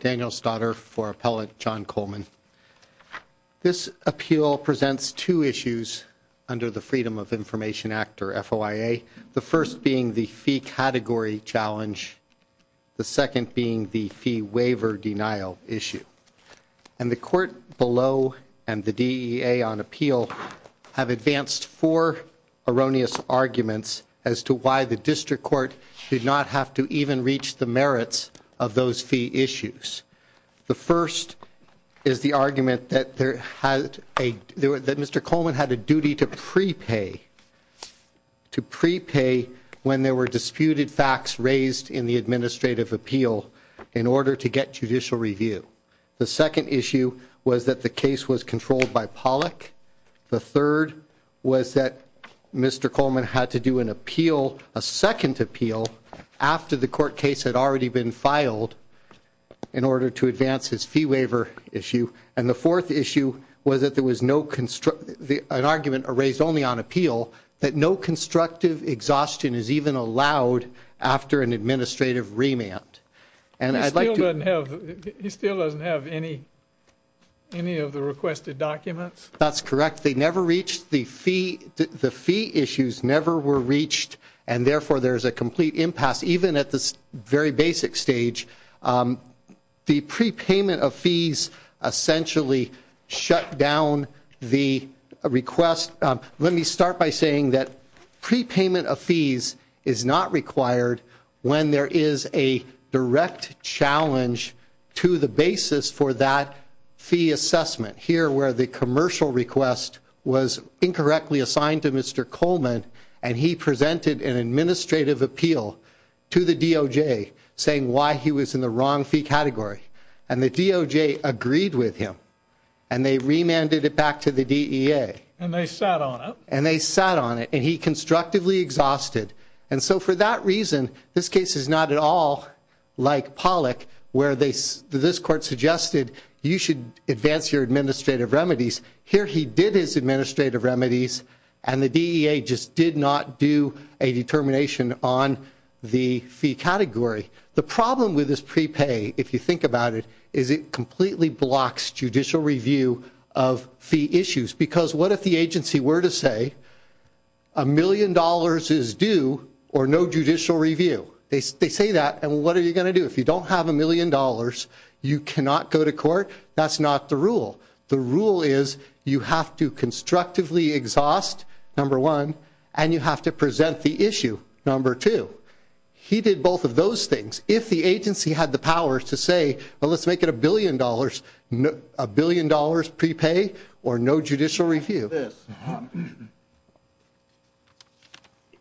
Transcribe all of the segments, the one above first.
Daniel Stoddard for Appellate John Coleman This appeal presents two issues under the Freedom of Information Act, or FOIA, the first being the fee category challenge, the second being the fee waiver denial issue. And the court below and the DEA on appeal have advanced four erroneous arguments as to why the district court did not have to even reach the merits of those fee issues. The first is the argument that there had a, that Mr. Coleman had a duty to prepay, to prepay when there were disputed facts raised in the administrative appeal in order to get judicial review. The second issue was that the case was controlled by Pollack. The third was that Mr. Coleman had to do an appeal, a second appeal, after the court case had already been filed in order to advance his fee waiver issue. And the fourth issue was that there was no, an argument raised only on appeal, that no constructive exhaustion is even allowed after an administrative remand. And I'd like to... He still doesn't have any, any of the requested documents? That's correct. They never reached the fee, the fee issues never were reached and therefore there's a complete impasse even at this very basic stage. The prepayment of fees essentially shut down the request. Let me start by saying that prepayment of fees is not required when there is a direct challenge to the basis for that fee assessment. Here where the commercial request was incorrectly assigned to Mr. Coleman and he presented an administrative appeal to the DOJ saying why he was in the wrong fee category and the DOJ agreed with him and they remanded it back to the DEA. And they sat on it? And they And so for that reason, this case is not at all like Pollack where they, this court suggested you should advance your administrative remedies. Here he did his administrative remedies and the DEA just did not do a determination on the fee category. The problem with this prepay, if you think about it, is it completely blocks judicial review of fee issues. Because what if agency were to say a million dollars is due or no judicial review. They say that and what are you going to do if you don't have a million dollars, you cannot go to court? That's not the rule. The rule is you have to constructively exhaust, number one, and you have to present the issue, number two. He did both of those things. If the agency had the power to say well let's make it billion dollars, a billion dollars prepay or no judicial review.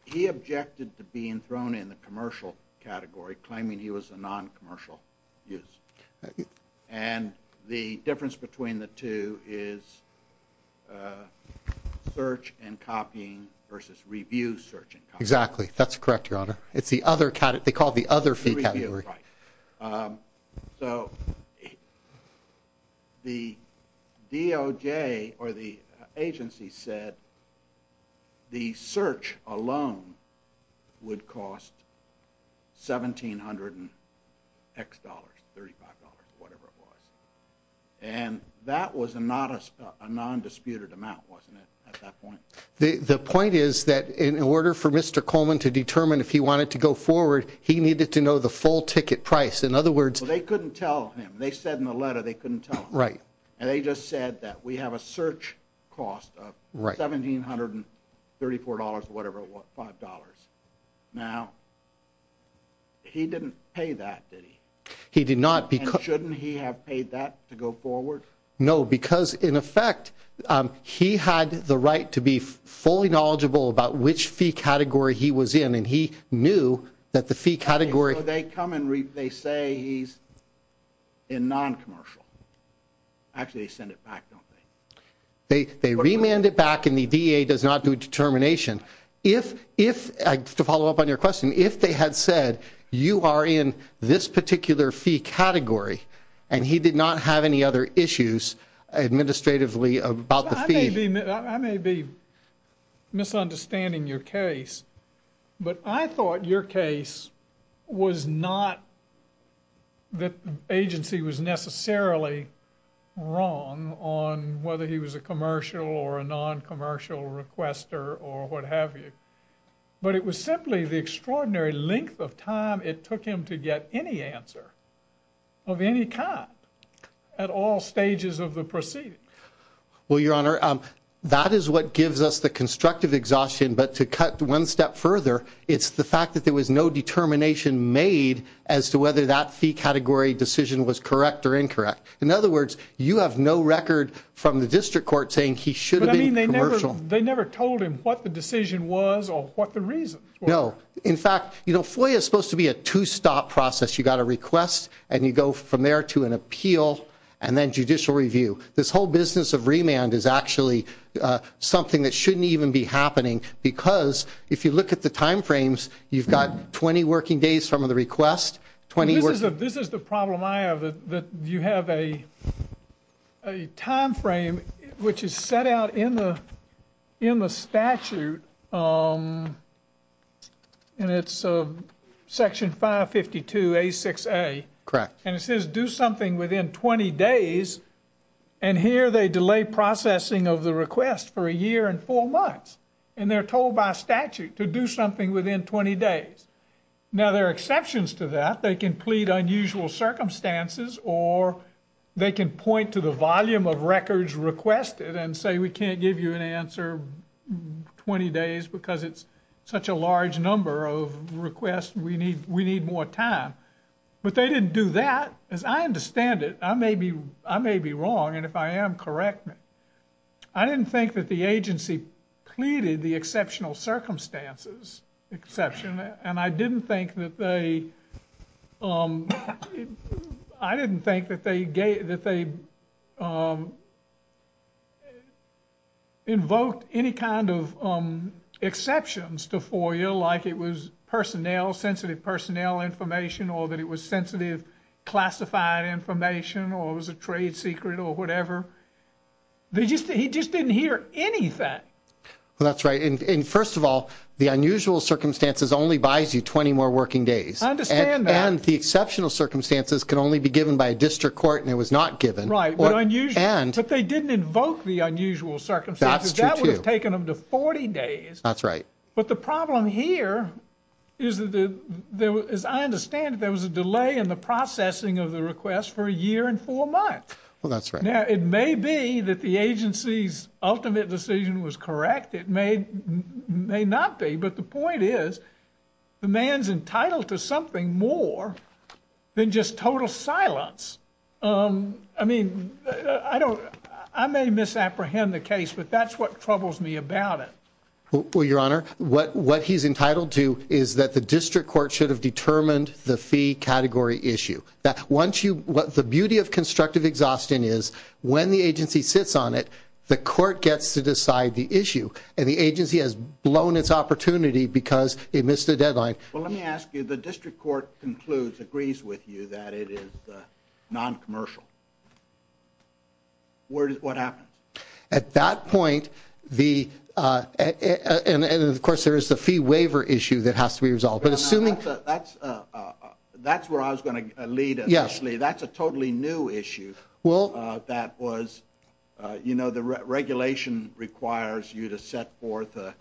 He objected to being thrown in the commercial category claiming he was a non-commercial use. And the difference between the two is search and copying versus review search and copy. Exactly, that's correct your honor. It's they call it the other fee category. So the DOJ or the agency said the search alone would cost 1,700 X dollars, 35 dollars, whatever it was. And that was a non-disputed amount wasn't it at that point? The point is that in order for Mr. Coleman to determine if he wanted to go forward he needed to know the full ticket price. In other words, they couldn't tell him. They said in the letter they couldn't tell him. Right. And they just said that we have a search cost of 1,734 dollars whatever it was, five dollars. Now he didn't pay that did he? He did not. And shouldn't he have paid that to go forward? No because in effect he had the right to be fully knowledgeable about which fee category he was in and he knew that the fee category. So they come and they say he's in non-commercial. Actually they send it back don't they? They remand it back and the DA does not do a determination. If, to follow up on your question, if they had said you are in this particular fee category and he did not have any other issues administratively about the fee. I may be misunderstanding your case but I thought your case was not that the agency was necessarily wrong on whether he was a commercial or a non-commercial requester or what have you. But it was simply the extraordinary length of time it took him to get any answer of any kind at all stages of the proceeding. Well your honor that is what gives us the constructive exhaustion but to cut one step further it's the fact that there was no determination made as to whether that fee category decision was correct or incorrect. In other words you have no record from the district court saying he should have been commercial. They never told him what the decision was or what the reasons were. No in fact you know FOIA is supposed to be a two-stop process. You got a request and you go from there to an appeal and then judicial review. This whole business of remand is actually something that shouldn't even be happening because if you look at the time frames you've got 20 working days from the request. This is the problem I have that you have a a time frame which is set out in the in the statute and it's section 552 a6a. Correct. And it says do something within 20 days and here they delay processing of the request for a year and four months and they're told by statute to do something within 20 days. Now there are exceptions to that. They can plead unusual circumstances or they can point to the volume of records requested and say we can't give you an answer 20 days because it's such a large number of requests we need we need more time but they didn't do that. As I understand it I may be I may be wrong and if I am correct me. I didn't think that the agency pleaded the exceptional circumstances exception and I didn't think that they um I didn't think that they gave that they um invoked any kind of um exceptions to FOIA like it was personnel sensitive personnel information or that it was sensitive classified information or it was a trade secret or whatever. They just he just didn't hear anything. Well that's right and first of all the unusual circumstances only buys you 20 more working days. I understand that. And the exceptional circumstances can only be given by a district court and it was not given. Right but unusual and but they didn't invoke the unusual circumstances that would have taken them to 40 days. That's right. But the problem here is that there was I understand there was a delay in the processing of the request for a year and four months. Well that's right. Now it may be that the agency's ultimate decision was correct. It may may not be but the point is the man's entitled to something more than just total silence. Um I mean I don't I may misapprehend the case but that's what troubles me about it. Well your honor what what he's entitled to is that the district court should have determined the fee category issue. That once you what the beauty of constructive exhaustion is when the agency sits on it the court gets to decide the issue and the agency has blown its opportunity because it missed the deadline. Well let me ask you the district court concludes agrees with you that it is non-commercial. Where what happens? At that point the uh and and of course there is the fee waiver issue that has to be resolved but assuming that's uh that's where I was going to lead initially that's a totally new issue. Well uh that was uh you know the regulation requires you to set forth uh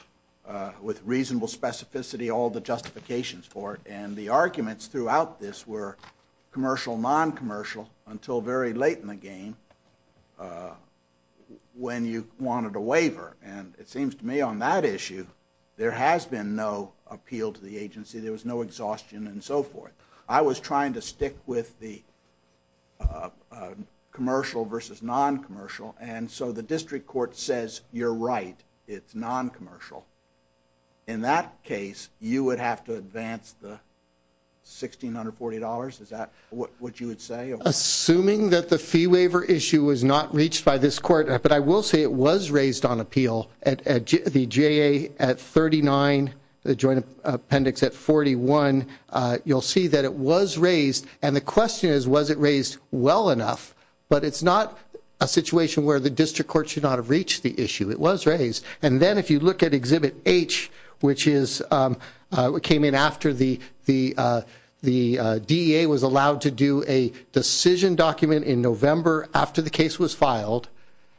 uh with reasonable specificity all the justifications for it and the arguments throughout this were commercial non-commercial until very late in the game uh when you wanted a waiver and it seems to me on that issue there has been no appeal to the agency there was no exhaustion and so forth. I was trying to stick with the uh commercial versus non-commercial and so the district court says you're right it's non-commercial. In that case you would have to advance the sixteen hundred forty dollars is that what you would say? Assuming that the fee waiver issue was not reached by this court but I will say it was raised on appeal at the JA at thirty nine the joint appendix at forty one uh you'll see that it was raised and the question is was it raised well enough but it's not a situation where the district court should not have reached the issue it was raised and then if you look at exhibit H which is um uh what came in after the the uh the uh DEA was allowed to do a decision document in November after the case was filed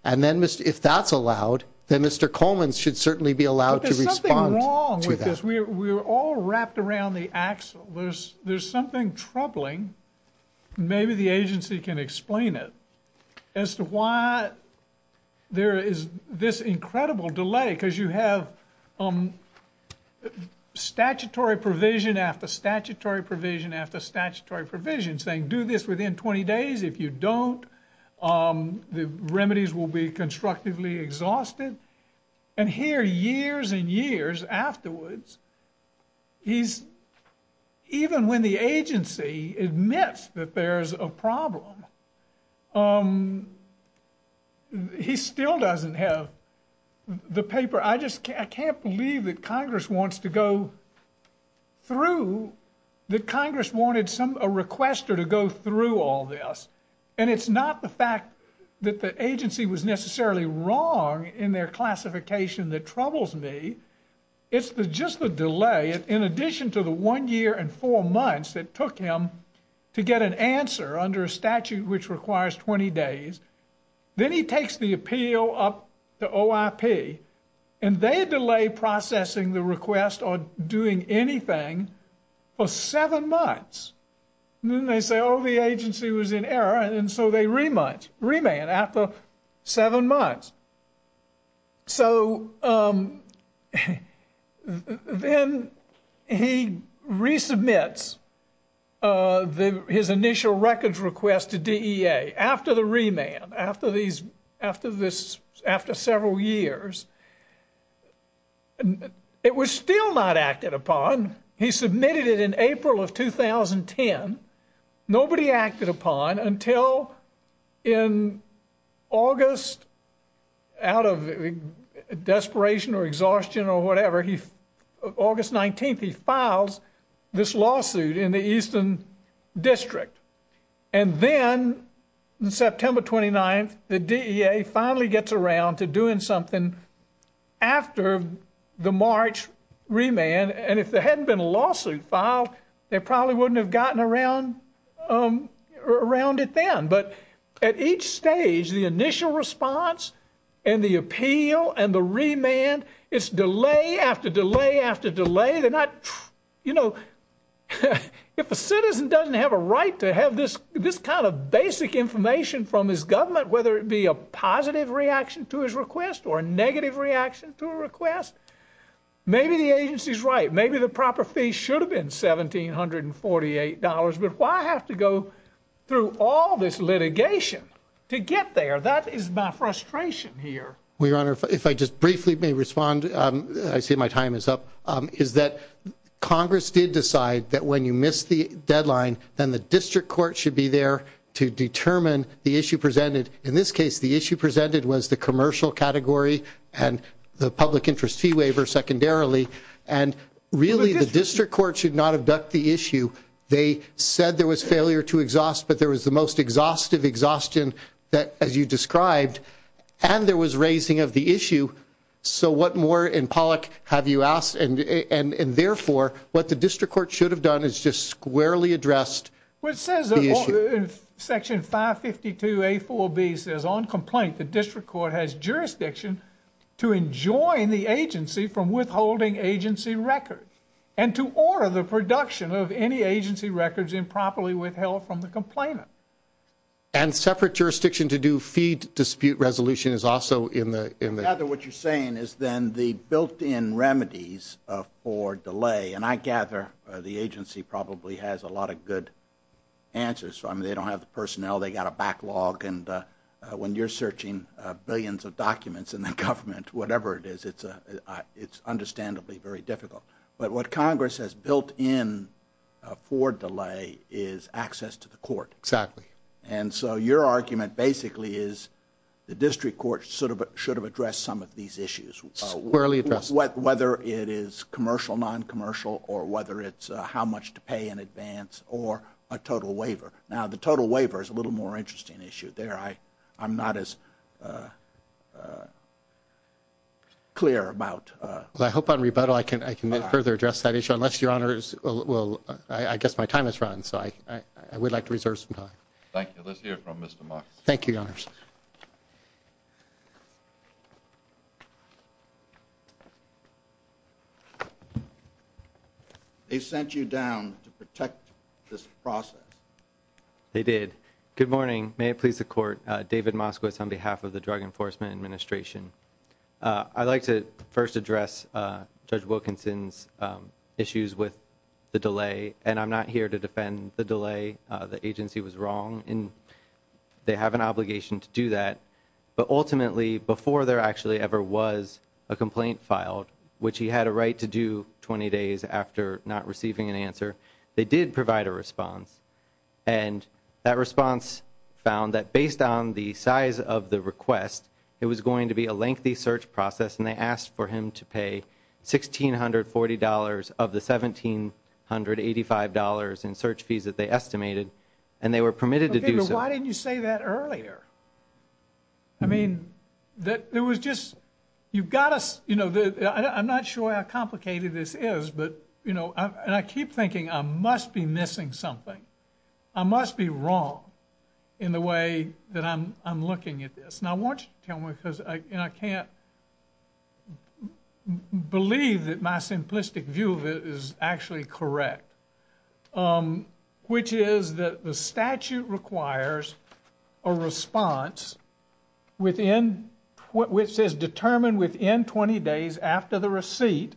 and then if that's allowed then Mr. Coleman should certainly be allowed to respond. There's something wrong with this we were all wrapped around the axle there's there's something troubling maybe the agency can explain it as to why there is this incredible delay because you have um statutory provision after statutory provision after statutory provision saying do this within 20 days if you don't um the remedies will be constructively exhausted and here years and years afterwards he's even when the agency admits that there's a problem um he still doesn't have the paper I just I can't believe that Congress wants to go through that Congress wanted some a requester to go through all this and it's not the fact that the agency was necessarily wrong in their four months that took him to get an answer under a statute which requires 20 days then he takes the appeal up to OIP and they delay processing the request or doing anything for seven months then they say oh the agency was in error and so they rematch remand after seven months so um then he resubmits uh the his initial records request to DEA after the remand after these after this after several years it was still not acted upon he submitted it in April of 2010 nobody acted upon until in August out of desperation or exhaustion or whatever he August 19th he files this lawsuit in the Eastern District and then in September 29th the DEA finally gets around to doing something after the March remand and if there hadn't been a lawsuit filed they probably wouldn't have gotten around um around it then but at each stage the initial response and the appeal and the remand it's delay after delay after delay they're not you know if a citizen doesn't have a right to have this this kind of basic information from his government whether it be a positive reaction to his request or a negative reaction to a request maybe the agency's right maybe the proper fee should have been $1,748 but why have to go through all this litigation to get there that is my frustration here well your honor if i just briefly may respond um i say my time is up um is that congress did decide that when you miss the deadline then the district court should be there to determine the issue presented in this case the issue presented was the commercial category and the public interest fee waiver secondarily and really the district court should not abduct the issue they said there was failure to exhaust but there was the most exhaustive exhaustion that as you described and there was raising of the issue so what more in pollock have you asked and and and therefore what the district court should have done is just squarely addressed which says section 552 a4b says on complaint the district court has jurisdiction to enjoin the agency from withholding agency records and to order the production of any agency records improperly withheld from the complainant and separate jurisdiction to do feed dispute resolution is also in the in the other what you're saying is then the built-in of for delay and i gather the agency probably has a lot of good answers so i mean they don't have the personnel they got a backlog and uh when you're searching uh billions of documents in the government whatever it is it's a it's understandably very difficult but what congress has built in for delay is access to the court exactly and so your argument basically is the district court sort of should have addressed some of these issues squarely address what whether it is commercial non-commercial or whether it's how much to pay in advance or a total waiver now the total waiver is a little more interesting issue there i i'm not as uh uh clear about uh well i hope on rebuttal i can i can further address that issue unless your honors will i guess my time has run so i i would like to reserve some time thank you let's hear from thank you your honors they sent you down to protect this process they did good morning may it please the court uh david moskowitz on behalf of the drug enforcement administration uh i'd like to first address uh judge wilkinson's um issues with the delay and i'm not here to defend the delay uh the agency was in they have an obligation to do that but ultimately before there actually ever was a complaint filed which he had a right to do 20 days after not receiving an answer they did provide a response and that response found that based on the size of the request it was going to be a lengthy search process and they asked for him to pay sixteen hundred forty dollars of the seventeen hundred eighty-five dollars in search fees that they estimated and they were permitted to do so why didn't you say that earlier i mean that there was just you've got us you know i'm not sure how complicated this is but you know and i keep thinking i must be missing something i must be wrong in the way that i'm i'm looking at this and i want you to tell me because i and i can't believe that my simplistic view of it is actually correct um which is that the statute requires a response within what which is determined within 20 days after the receipt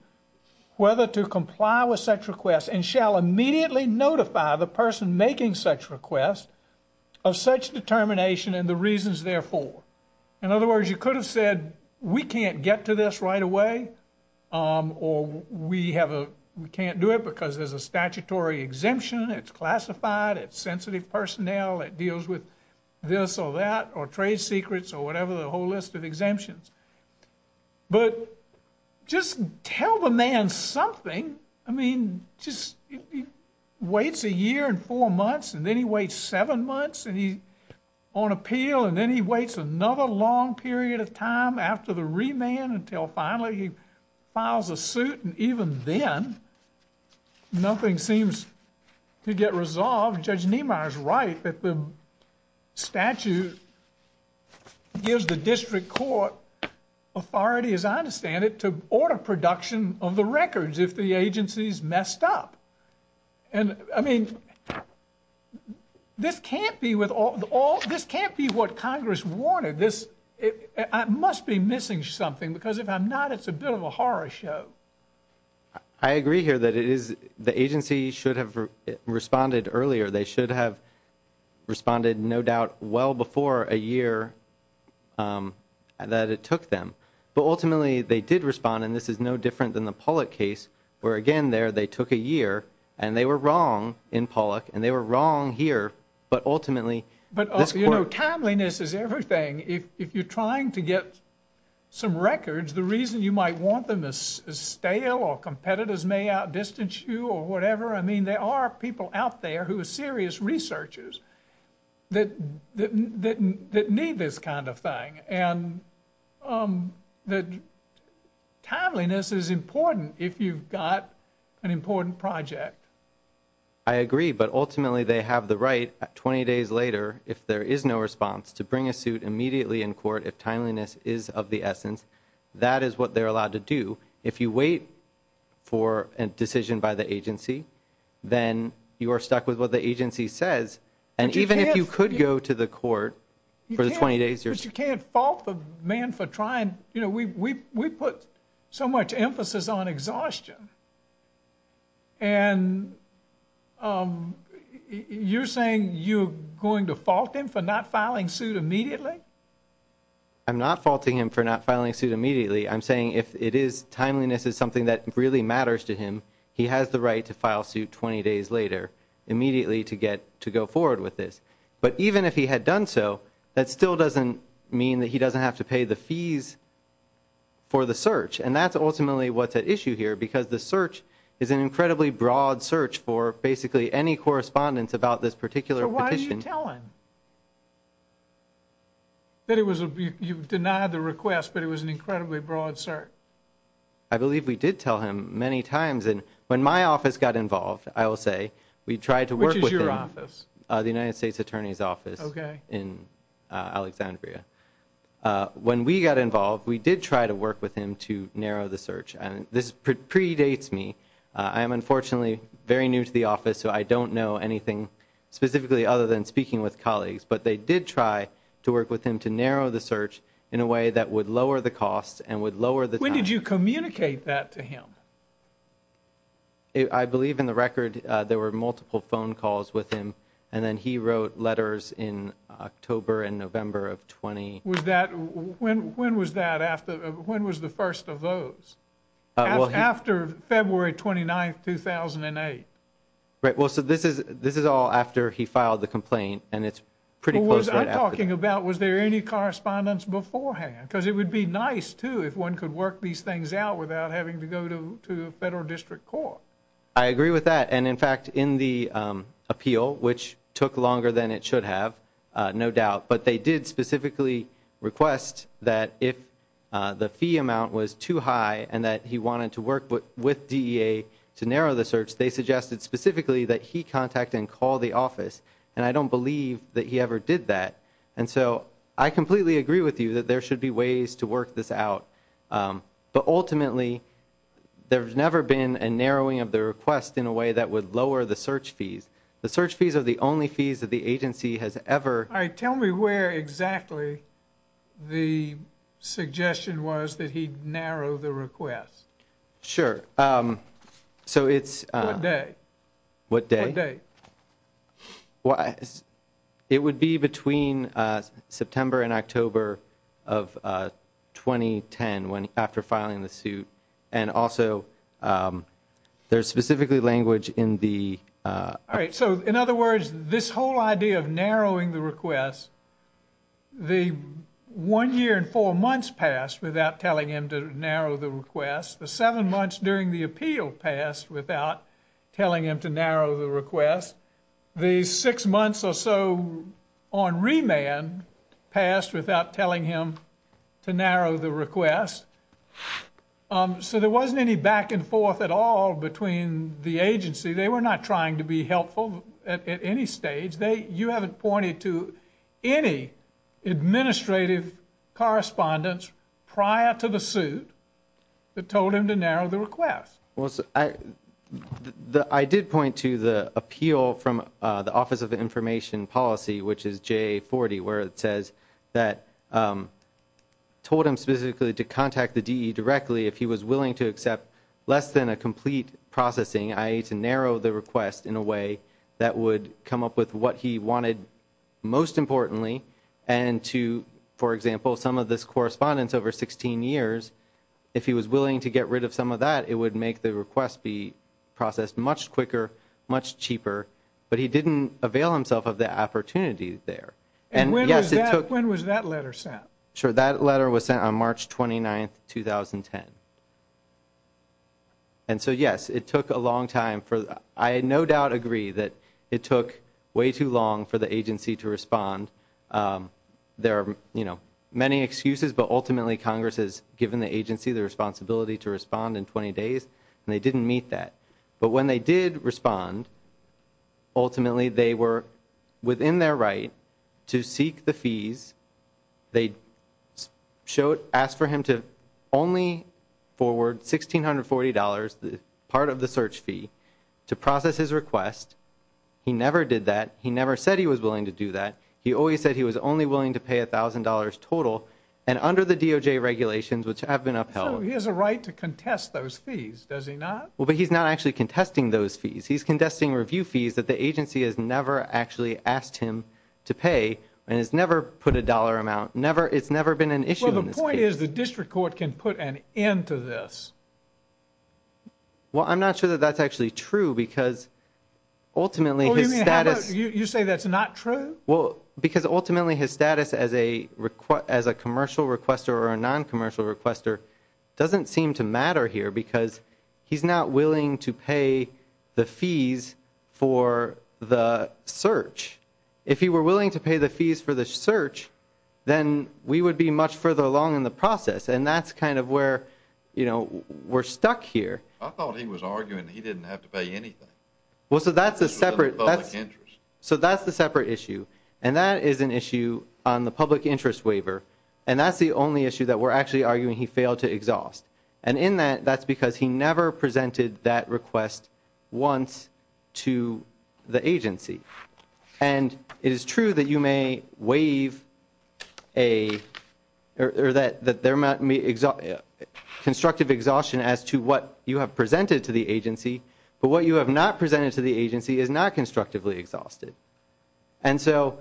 whether to comply with such requests and shall immediately notify the person making such requests of such determination and the reasons therefore in other words you could have said we can't get to this right away um or we have a we can't do it because there's a statutory exemption it's classified it's sensitive personnel it deals with this or that or trade secrets or whatever the whole list of exemptions but just tell the man something i mean just waits a year and four months and then he waits seven months and he's on appeal and then he waits another long period of time after the remand until finally he files a suit and even then nothing seems to get resolved judge niemeyer's right that the statute gives the district court authority as i understand it to order production of the records if the agency's messed up and i mean this can't be with all the all this can't be what congress wanted this i must be missing something because if i'm not it's a bit of a horror show i agree here that it is the agency should have responded earlier they should have responded no doubt well before a year um that it took them but ultimately they did respond and this is no different than the pollack case where again there they took a year and they were wrong in pollack and they were wrong here but ultimately but also you know timeliness is everything if you're trying to get some records the reason you might want them to stale or competitors may out distance you or whatever i mean there are people out there who are serious researchers that that that need this kind of thing and um that timeliness is important if you've got an important project i agree but ultimately they have the right 20 days later if there is no response to bring a suit immediately in court if timeliness is of the essence that is what they're allowed to do if you wait for a decision by the agency then you are stuck with what the agency says and even if you could go to the court for the 20 days but you can't fault the man for trying you know we we put so much emphasis on exhaustion and um you're saying you're going to fault him for not filing suit immediately i'm not faulting him for not filing suit immediately i'm saying if it is timeliness is something that really matters to him he has the right to file suit 20 days later immediately to get to go forward with this but even if he had done so that still doesn't mean that he doesn't have to pay the fees for the search and that's ultimately what's at issue here because the search is an incredibly broad search for basically any correspondence about this particular petition why are you telling that it was a you've denied the request but it was an incredibly broad search i believe we did tell him many times and when my office got involved i will say we tried to work with your office uh the united states attorney's office okay in alexandria uh when we got involved we did try to work with him to narrow the search and this predates me i am unfortunately very new to the office so i don't know anything specifically other than speaking with colleagues but they did try to work with him to narrow the search in a way that would lower the that to him i believe in the record uh there were multiple phone calls with him and then he wrote letters in october and november of 20 was that when when was that after when was the first of those after february 29 2008 right well so this is this is all after he filed the complaint and it's pretty close i'm talking about was there any correspondence beforehand because it would be nice if one could work these things out without having to go to to a federal district court i agree with that and in fact in the um appeal which took longer than it should have uh no doubt but they did specifically request that if uh the fee amount was too high and that he wanted to work with dea to narrow the search they suggested specifically that he contact and call the office and i don't believe that he ever did that and so i completely agree with you that there should be ways to work this out um but ultimately there's never been a narrowing of the request in a way that would lower the search fees the search fees are the only fees that the agency has ever all right tell me where exactly the suggestion was that he'd narrow the request sure um so it's a day what day day well it would be between uh september and october of uh 2010 when after filing the suit and also um there's specifically language in the uh all right so in other words this whole idea of narrowing the request the one year and four months passed without telling him to narrow the request the seven months during the appeal passed without telling him to narrow the request the six months or so on remand passed without telling him to narrow the request um so there wasn't any back and forth at all between the agency they were not trying to be helpful at any stage they you haven't pointed to any administrative correspondence prior to the suit that told him to narrow the request well i the i did point to the appeal from uh the office of information policy which is j40 where it says that um told him specifically to contact the de directly if he was willing to accept less than a complete processing ie to narrow the request in a way that would come up with what he wanted most importantly and to for example some of this correspondence over 16 years if he was willing to get rid of some of that it would make the request be processed much quicker much cheaper but he didn't avail himself of the opportunity there and when was that when was that letter sent sure that letter was sent on march 29 2010 and so yes it took a long time for i no doubt agree that it took way too long for the agency to respond um there are you know many excuses but ultimately congress has given the agency the responsibility to respond in 20 days and they didn't meet that but when they did respond ultimately they were within their right to seek the fees they showed asked for him to only forward 1640 dollars the part of the search fee to process his request he never did that he never said he was he always said he was only willing to pay a thousand dollars total and under the doj regulations which have been upheld he has a right to contest those fees does he not well but he's not actually contesting those fees he's contesting review fees that the agency has never actually asked him to pay and has never put a dollar amount never it's never been an issue the point is the district court can put an end to this well i'm not sure that that's actually true because ultimately you say that's not true well because ultimately his status as a request as a commercial requester or a non-commercial requester doesn't seem to matter here because he's not willing to pay the fees for the search if he were willing to pay the fees for the search then we would be much further along in the process and that's kind of where you know we're stuck here i thought he was arguing he didn't have to pay anything well so that's a separate that's so that's the separate issue and that is an issue on the public interest waiver and that's the only issue that we're actually arguing he failed to exhaust and in that that's because he never presented that request once to the agency and it is true that you may waive a or that that there might be constructive exhaustion as to what you have presented to the agency but what you have not presented to the agency is not constructively exhausted and so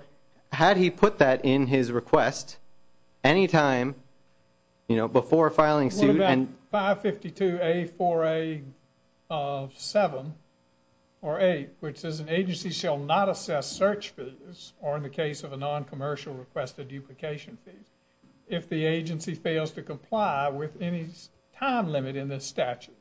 had he put that in his request anytime you know before filing suit and 552 a 4a of 7 or 8 which is an agency shall not assess search fees or in the case of a non-commercial requested duplication fees if the agency fails to comply with any time limit in this statute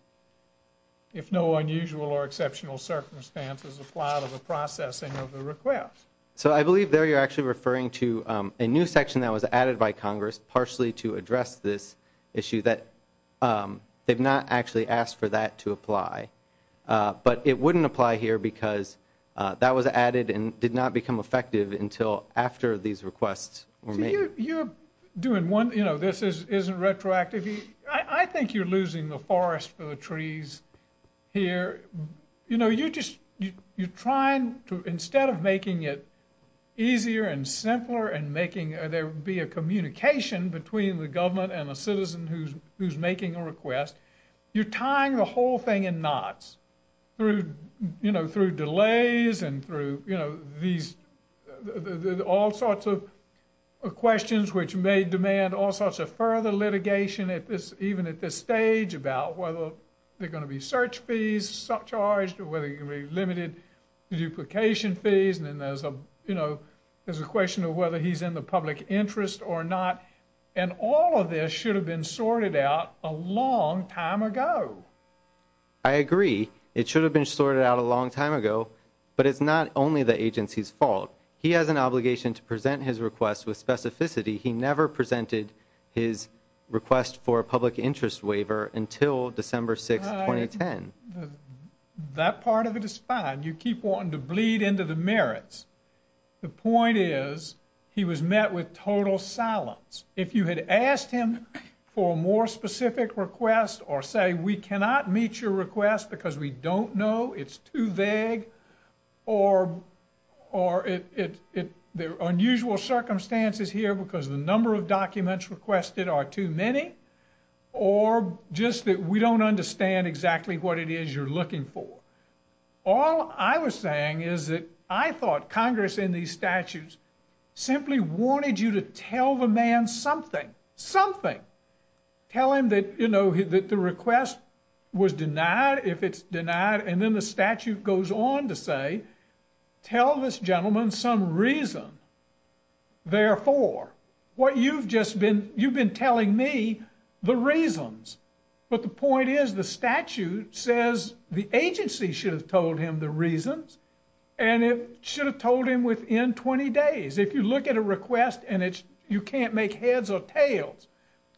if no unusual or exceptional circumstances apply to the processing of the request so i believe there you're actually referring to a new section that was added by congress partially to address this issue that they've not actually asked for that to apply but it wouldn't apply here because that was added and did not become effective until after these requests were made you're doing one this is isn't retroactive i think you're losing the forest for the trees here you know you just you're trying to instead of making it easier and simpler and making there be a communication between the government and a citizen who's who's making a request you're tying the whole thing in knots through you know through delays and through you know these all sorts of questions which may demand all sorts of further litigation at this even at this stage about whether they're going to be search fees sub-charged or whether you can be limited duplication fees and then there's a you know there's a question of whether he's in the public interest or not and all of this should have been sorted out a long time ago i agree it should have been sorted out a long time ago but it's not only the agency's fault he has an obligation to present his request with specificity he never presented his request for a public interest waiver until december 6 2010 that part of it is fine you keep wanting to bleed into the merits the point is he was met with total silence if you had asked him for a more specific request or say we cannot meet your request because we number of documents requested are too many or just that we don't understand exactly what it is you're looking for all i was saying is that i thought congress in these statutes simply wanted you to tell the man something something tell him that you know that the request was denied if it's denied and then the statute goes on to say tell this gentleman some reason therefore what you've just been you've been telling me the reasons but the point is the statute says the agency should have told him the reasons and it should have told him within 20 days if you look at a request and it's you can't make heads or tails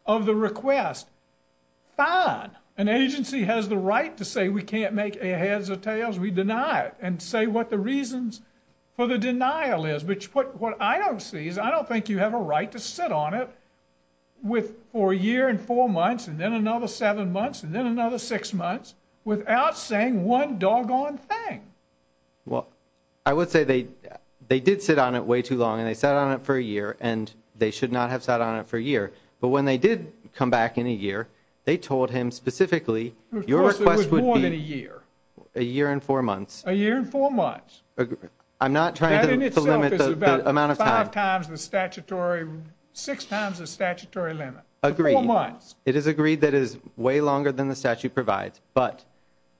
of the request fine an agency has the right to say we can't make a heads or tails we deny it and say what the reasons for the denial is what i don't see is i don't think you have a right to sit on it with for a year and four months and then another seven months and then another six months without saying one doggone thing well i would say they they did sit on it way too long and they sat on it for a year and they should not have sat on it for a year but when they did come back in a year they told him specifically your request a year a year and four months a year and four months i'm not trying to limit the amount of time times the statutory six times the statutory limit agree months it is agreed that is way longer than the statute provides but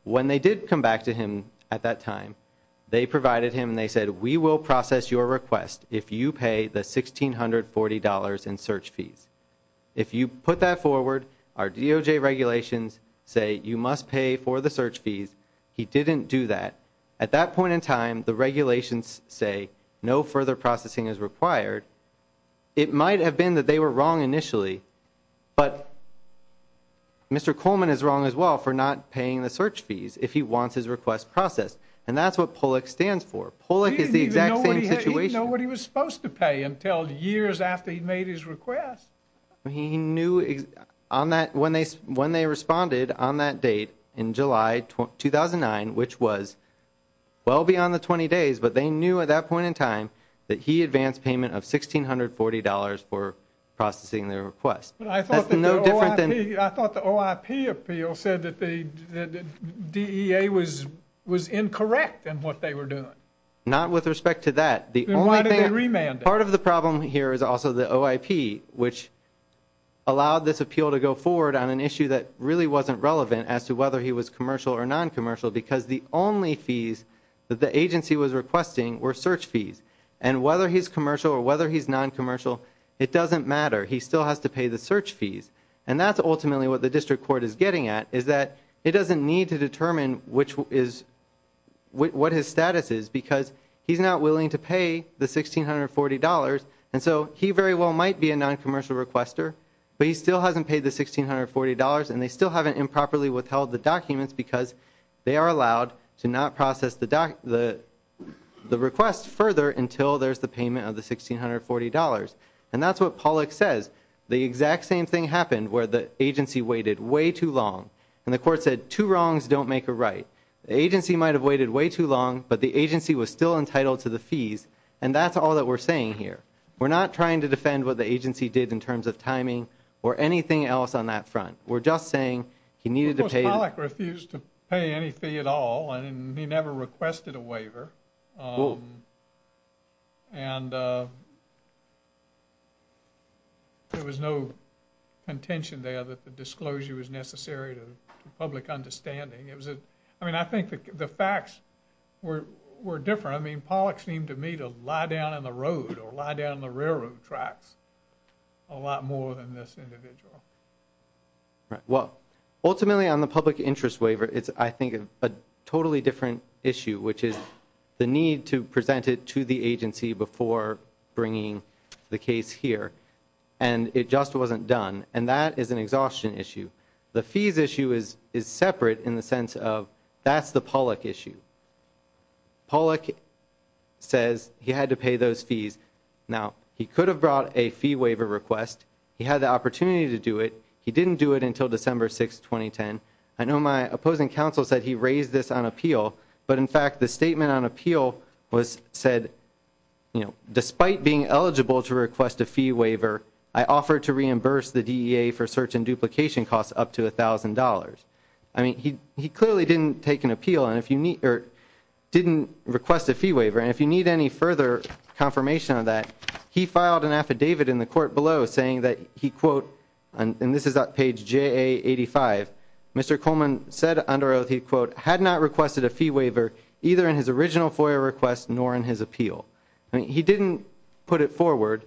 when they did come back to him at that time they provided him they said we will process your request if you pay the 1640 dollars in search fees if you put that forward our doj regulations say you must pay for the search fees he didn't do that at that point in time the regulations say no further processing is required it might have been that they were wrong initially but mr coleman is wrong as well for not paying the search fees if he wants his request processed and that's what pollack stands for pollack is the exact same situation nobody was supposed to pay until years after he made his request he knew on that when they when they responded on that date in july 2009 which was well beyond the 20 days but they knew at that point in time that he advanced payment of 1640 dollars for processing their request but i thought no different than i thought the oip appeal said that the dea was was incorrect and what they were doing not with respect to that the only thing part of the problem here is also the oip which allowed this appeal to go forward on an issue that really wasn't relevant as to whether he was commercial or non-commercial because the only fees that the agency was requesting were search fees and whether he's commercial or whether he's non-commercial it doesn't matter he still has to pay the search fees and that's ultimately what the district court is getting at is that it doesn't need to determine which is what his status is because he's not willing to pay the 1640 dollars and so he very well might be a non-commercial requester but he still hasn't paid the 1640 dollars and they still haven't improperly withheld the documents because they are allowed to not process the doc the the request further until there's the payment of the 1640 dollars and that's what pollack says the exact same thing happened where the agency waited way too long and the court said two wrongs the agency might have waited way too long but the agency was still entitled to the fees and that's all that we're saying here we're not trying to defend what the agency did in terms of timing or anything else on that front we're just saying he needed to pay refused to pay any fee at all and he never requested a waiver um and uh there was no contention there that the disclosure was necessary to public understanding it was a i mean i think the facts were were different i mean pollock seemed to me to lie down in the road or lie down the railroad tracks a lot more than this individual right well ultimately on the public interest waiver it's i think a totally different issue which is the need to present it to the agency before bringing the case here and it just wasn't done and that is an exhaustion issue the fees issue is is separate in the sense of that's the pollack issue pollack says he had to pay those fees now he could have brought a fee waiver request he had the opportunity to do it he didn't do it until december 6 2010 i know my opposing counsel said he raised this on appeal but in fact the statement on appeal was said you know despite being eligible to request a fee waiver i offered to reimburse the dea for search and duplication costs up to a thousand dollars i mean he he clearly didn't take an appeal and if you need or didn't request a fee waiver and if you need any further confirmation of that he filed an affidavit in the court below saying that he quote and this is that page ja85 mr coleman said under oath he quote had not requested a fee waiver either in his original foyer request nor in his appeal i mean he didn't put it forward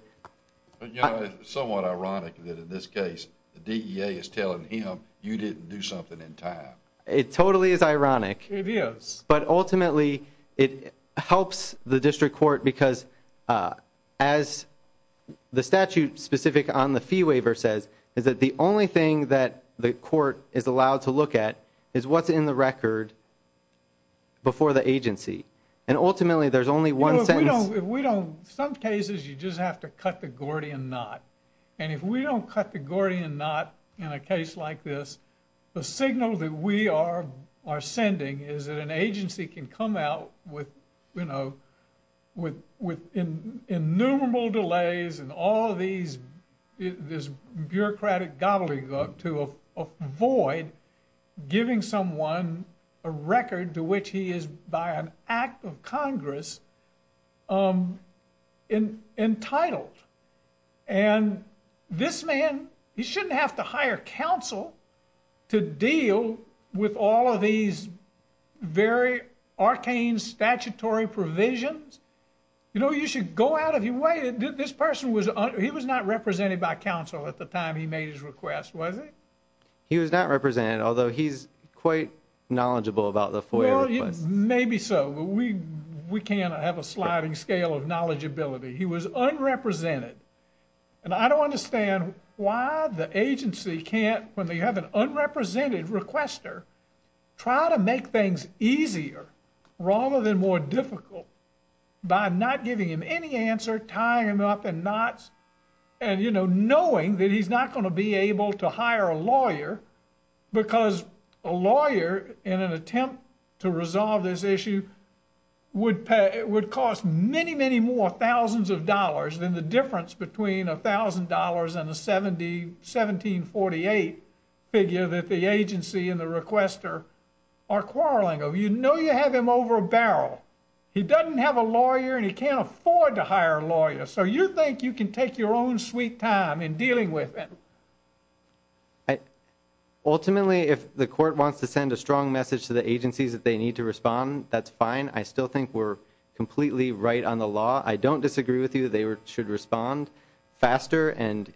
but you know it's somewhat ironic that in this case the dea is telling him you didn't do something in time it totally is ironic it is but ultimately it helps the district court because uh as the statute specific on the fee waiver says is that the only thing that the court is allowed to look at is what's in the record before the agency and ultimately there's only one sentence we don't some cases you just have to cut the gordian knot and if we don't cut the gordian knot in a case like this the signal that we are are sending is that an agency can come out with you know with with in innumerable delays and all these this bureaucratic gobbledygook to avoid giving someone a record to which he is by an act of congress um in entitled and this man he shouldn't have to hire counsel to deal with all of these very arcane statutory provisions you know you should go out of your way this person was he was not represented by counsel at the time he made his request was it he was not represented although he's quite knowledgeable about the foyer maybe so but we we can't have a sliding scale of knowledgeability he was unrepresented and i don't understand why the agency can't when they have an unrepresented requester try to make things easier rather than more difficult by not giving him any answer tying up and knots and you know knowing that he's not going to be able to hire a lawyer because a lawyer in an attempt to resolve this issue would pay it would cost many many more thousands of dollars than the difference between a thousand dollars and a 70 1748 figure that the agency and the requester are quarreling of you know you have him over a barrel he doesn't have a lawyer and he can't afford to hire a lawyer so you think you can take your own sweet time in dealing with him i ultimately if the court wants to send a strong message to the agencies that they need to respond that's fine i still think we're completely right on the law i don't disagree with you they should respond faster and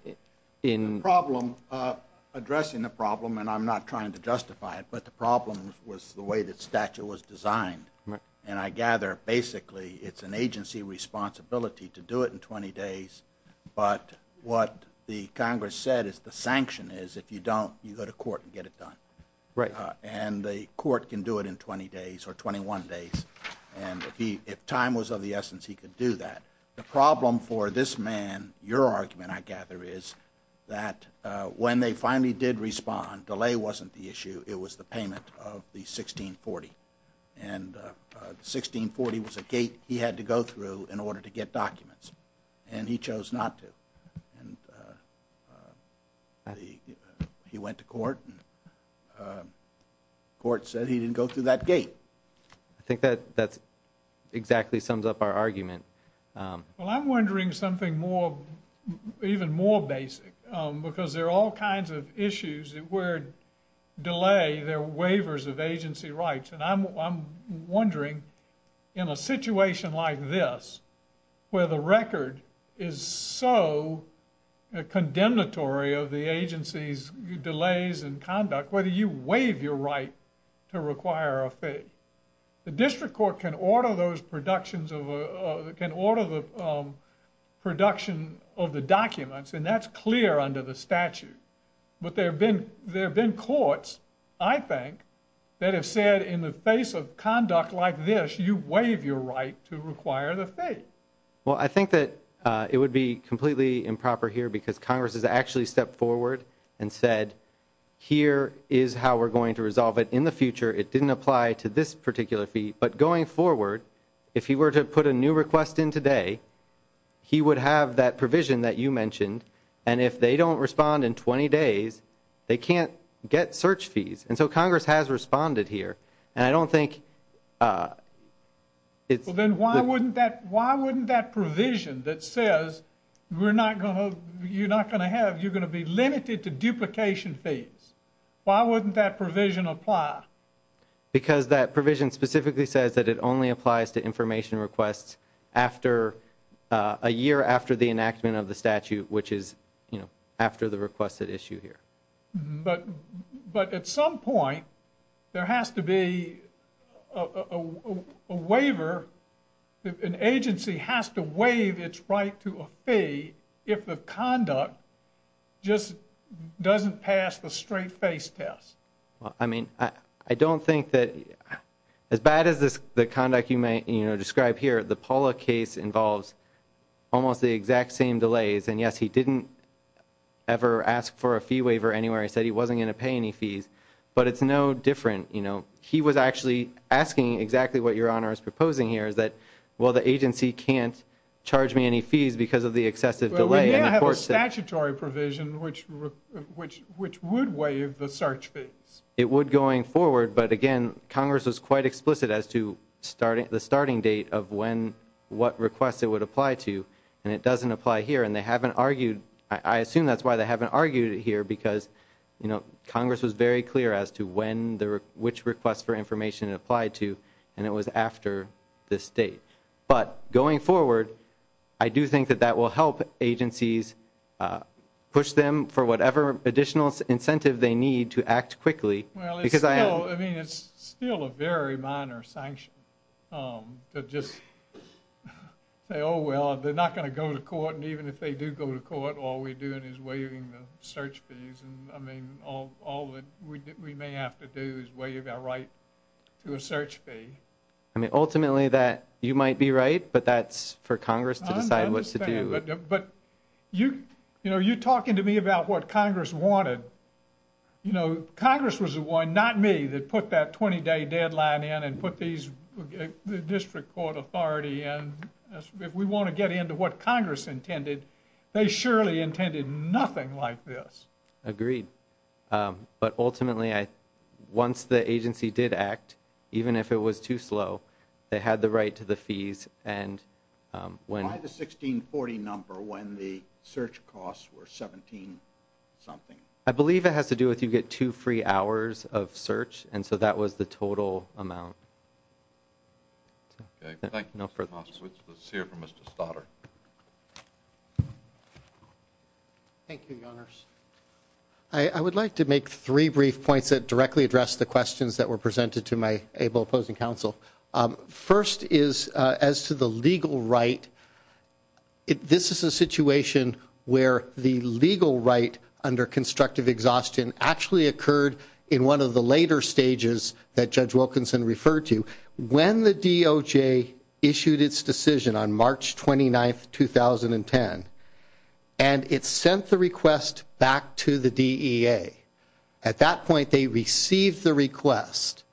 in problem uh addressing the problem and i'm not trying to justify it but the way that statute was designed and i gather basically it's an agency responsibility to do it in 20 days but what the congress said is the sanction is if you don't you go to court and get it done right and the court can do it in 20 days or 21 days and if he if time was of the essence he could do that the problem for this man your argument i gather is that uh when they finally did respond delay wasn't the issue it was the payment of the 1640 and uh 1640 was a gate he had to go through in order to get documents and he chose not to and uh he he went to court uh court said he didn't go through that gate i think that that's exactly sums up our argument well i'm wondering something more even more basic um because there are all kinds of issues that were delay their waivers of agency rights and i'm i'm wondering in a situation like this where the record is so condemnatory of the agency's delays and conduct whether you order those productions of can order the production of the documents and that's clear under the statute but there have been there have been courts i think that have said in the face of conduct like this you waive your right to require the fate well i think that uh it would be completely improper here because congress has actually stepped forward and said here is how we're going to if he were to put a new request in today he would have that provision that you mentioned and if they don't respond in 20 days they can't get search fees and so congress has responded here and i don't think uh it's then why wouldn't that why wouldn't that provision that says we're not going to you're not going to have you're going to be limited to duplication fees why wouldn't that provision apply because that provision specifically says that it only applies to information requests after a year after the enactment of the statute which is you know after the requested issue here but but at some point there has to be a waiver an agency has to waive its right to a fee if the conduct just doesn't pass the straight face test well i mean i don't think that as bad as this the conduct you may you know describe here the paula case involves almost the exact same delays and yes he didn't ever ask for a fee waiver anywhere he said he wasn't going to pay any fees but it's no different you know he was actually asking exactly what your honor is proposing here is that well the agency can't charge me any fees because of the excessive delay and of course statutory provision which which which would waive the search fees it would going forward but again congress was quite explicit as to starting the starting date of when what requests it would apply to and it doesn't apply here and they haven't argued i assume that's why they haven't argued it here because you know congress was very clear as to when the which request for information applied to and it was after this date but going forward i do think that that will help agencies uh push them for whatever additional incentive they need to act quickly well because i mean it's still a very minor sanction um to just say oh well they're not going to go to court and even if they do go to court all we're doing is waiving the search fees and i mean all all that we may have to do is waive our right to a search fee i mean ultimately that you might be right but that's for congress to decide what to do but you know you're talking to me about what congress wanted you know congress was the one not me that put that 20-day deadline in and put these the district court authority and if we want to get into what congress intended they surely intended nothing like this agreed um but ultimately i once the agency did act even if it was too slow they had the right to the fees and um when the 1640 number when the search costs were 17 something i believe it has to do with you get two free hours of search and so that was the total amount okay thank you no further let's hear from mr stoddard thank you your honors i i would like to make three brief points that directly address the questions that were presented to my able opposing counsel um first is uh as to the legal right this is a situation where the legal right under constructive exhaustion actually occurred in one of the later stages that judge wilkinson referred to when the doj issued its decision on march 29 2010 and it sent the request back to the dea at that point they received the request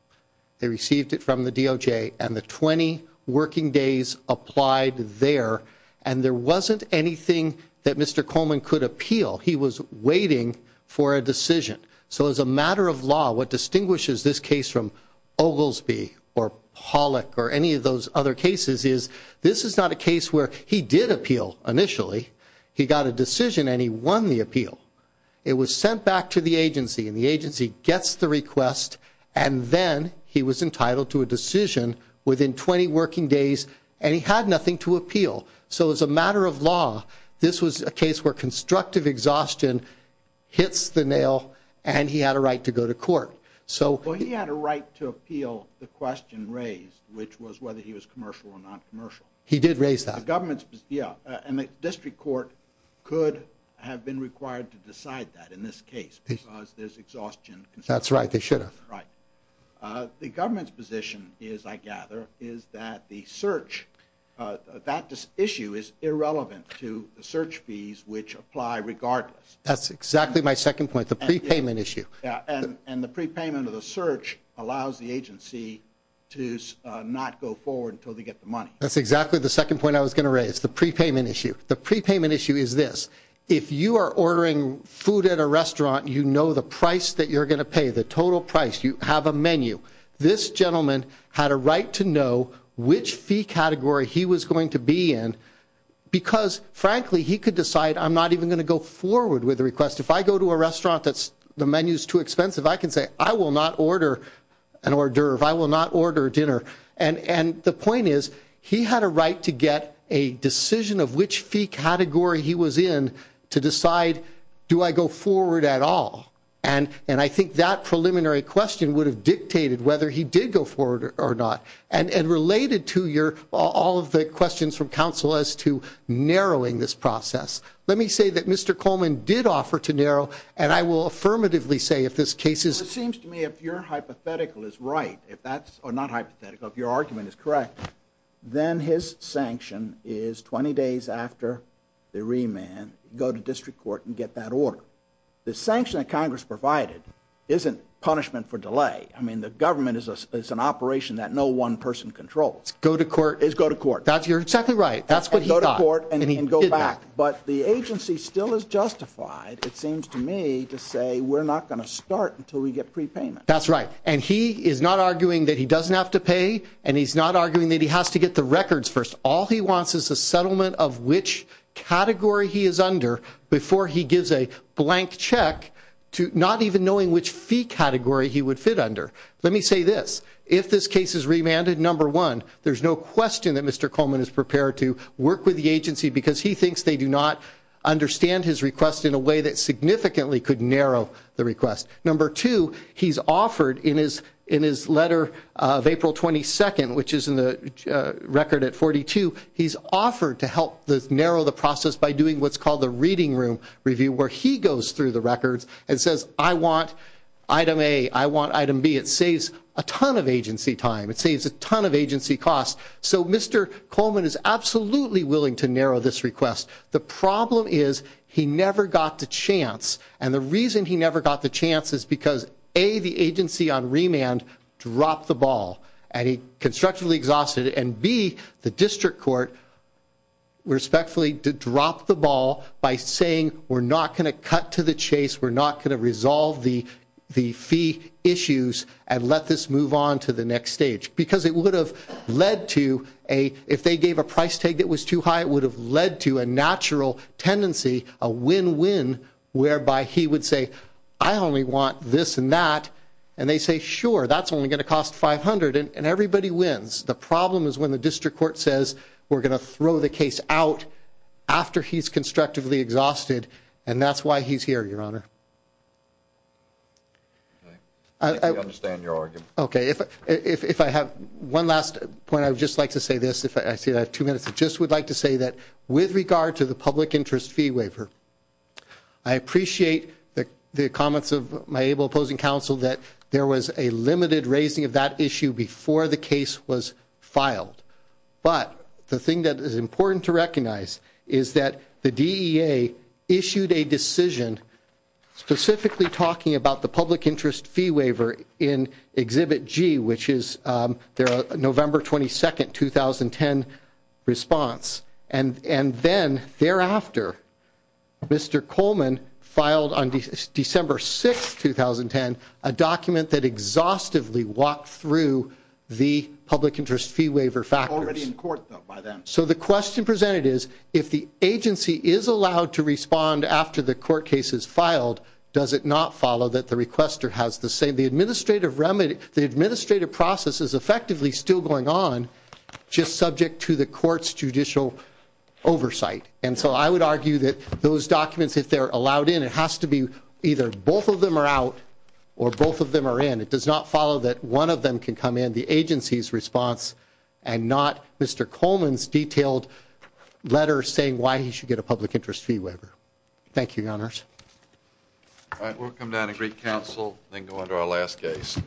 they received it from the doj and the 20 working days applied there and there wasn't anything that mr coleman could appeal he was waiting for a decision so as a matter of law what distinguishes this case from oglesby or pollock or any of those other cases is this is not a case where he did appeal initially he got a decision and he won the appeal it was sent back to the agency and the agency gets the request and then he was entitled to a decision within 20 working days and he had nothing to appeal so as a matter of law this was a case where constructive exhaustion hits the nail and he had a right to go to court so well he had a right to appeal the question raised which was whether he was commercial or non-commercial he did raise that government's yeah and the district court could have been required to decide that in this case because there's exhaustion that's right they should have right uh the government's position is i gather is that the search uh that issue is irrelevant to the search fees which apply regardless that's exactly my second point the prepayment issue yeah and and the prepayment of the search allows the agency to not go forward until they get the money that's exactly the second point i was going to raise the prepayment issue the prepayment issue is this if you are ordering food at a restaurant you know the price that you're going to pay the total price you have a menu this gentleman had a right to know which fee category he was going to be in because frankly he could decide i'm not even going to go forward with the request if i go to a restaurant that's the menu is too expensive i can say i will not order an hors d'oeuvre i will not order dinner and and the point is he had a right to get a decision of which fee category he was in to decide do i go forward at all and and i think that preliminary question would have dictated whether he did go forward or not and and related to your all of the questions from council as to narrowing this process let me say that mr coleman did offer to narrow and i will affirmatively say if this case is it seems to me if your hypothetical is right if that's or not hypothetical if your argument is correct then his sanction is 20 days after the remand go to district court and get that order the sanction that congress provided isn't punishment for delay i mean the government is an operation that no one person controls go to court is go to court that's you're exactly right that's what you go to court and go back but the agency still is justified it seems to me to say we're not going to start until we get prepayment that's right and he is not arguing that he doesn't have to pay and he's not arguing that to get the records first all he wants is a settlement of which category he is under before he gives a blank check to not even knowing which fee category he would fit under let me say this if this case is remanded number one there's no question that mr coleman is prepared to work with the agency because he thinks they do not understand his request in a way that significantly could narrow the request number two he's offered in his in his letter of april 22nd which is in the record at 42 he's offered to help the narrow the process by doing what's called the reading room review where he goes through the records and says i want item a i want item b it saves a ton of agency time it saves a ton of agency costs so mr coleman is absolutely willing to narrow this request the problem is he never got the chance and the reason he never got the chance is because a the agency on remand dropped the ball and he constructively exhausted it and b the district court respectfully to drop the ball by saying we're not going to cut to the chase we're not going to resolve the the fee issues and let this move on to the next stage because it would have led to a if they gave a price tag that was too high it would have led to a natural tendency a win-win whereby he would say i only want this and that and they say sure that's only going to cost 500 and everybody wins the problem is when the district court says we're going to throw the case out after he's constructively exhausted and that's why he's here your honor i understand your argument okay if if i have one last point i would just like to say this if i see two minutes i just would like to say that with regard to the public interest fee waiver i appreciate the the comments of my able opposing counsel that there was a limited raising of that issue before the case was filed but the thing that is important to recognize is that the dea issued a decision specifically talking about the public interest fee waiver in exhibit g which is their november 22nd 2010 response and and then thereafter mr coleman filed on december 6 2010 a document that exhaustively walked through the public interest fee waiver factors already in court though by them so the question presented is if the agency is allowed to respond after the court case is filed does it not follow that the requester has the same the administrative remedy the administrative process is effectively still going on just subject to the court's judicial oversight and so i would argue that those documents if they're allowed in it has to be either both of them are out or both of them are in it does not follow that one of them can come in the agency's response and not mr coleman's detailed letter saying why he should get a public interest fee waiver thank you your honors all right we'll come down and greet counsel then under our last case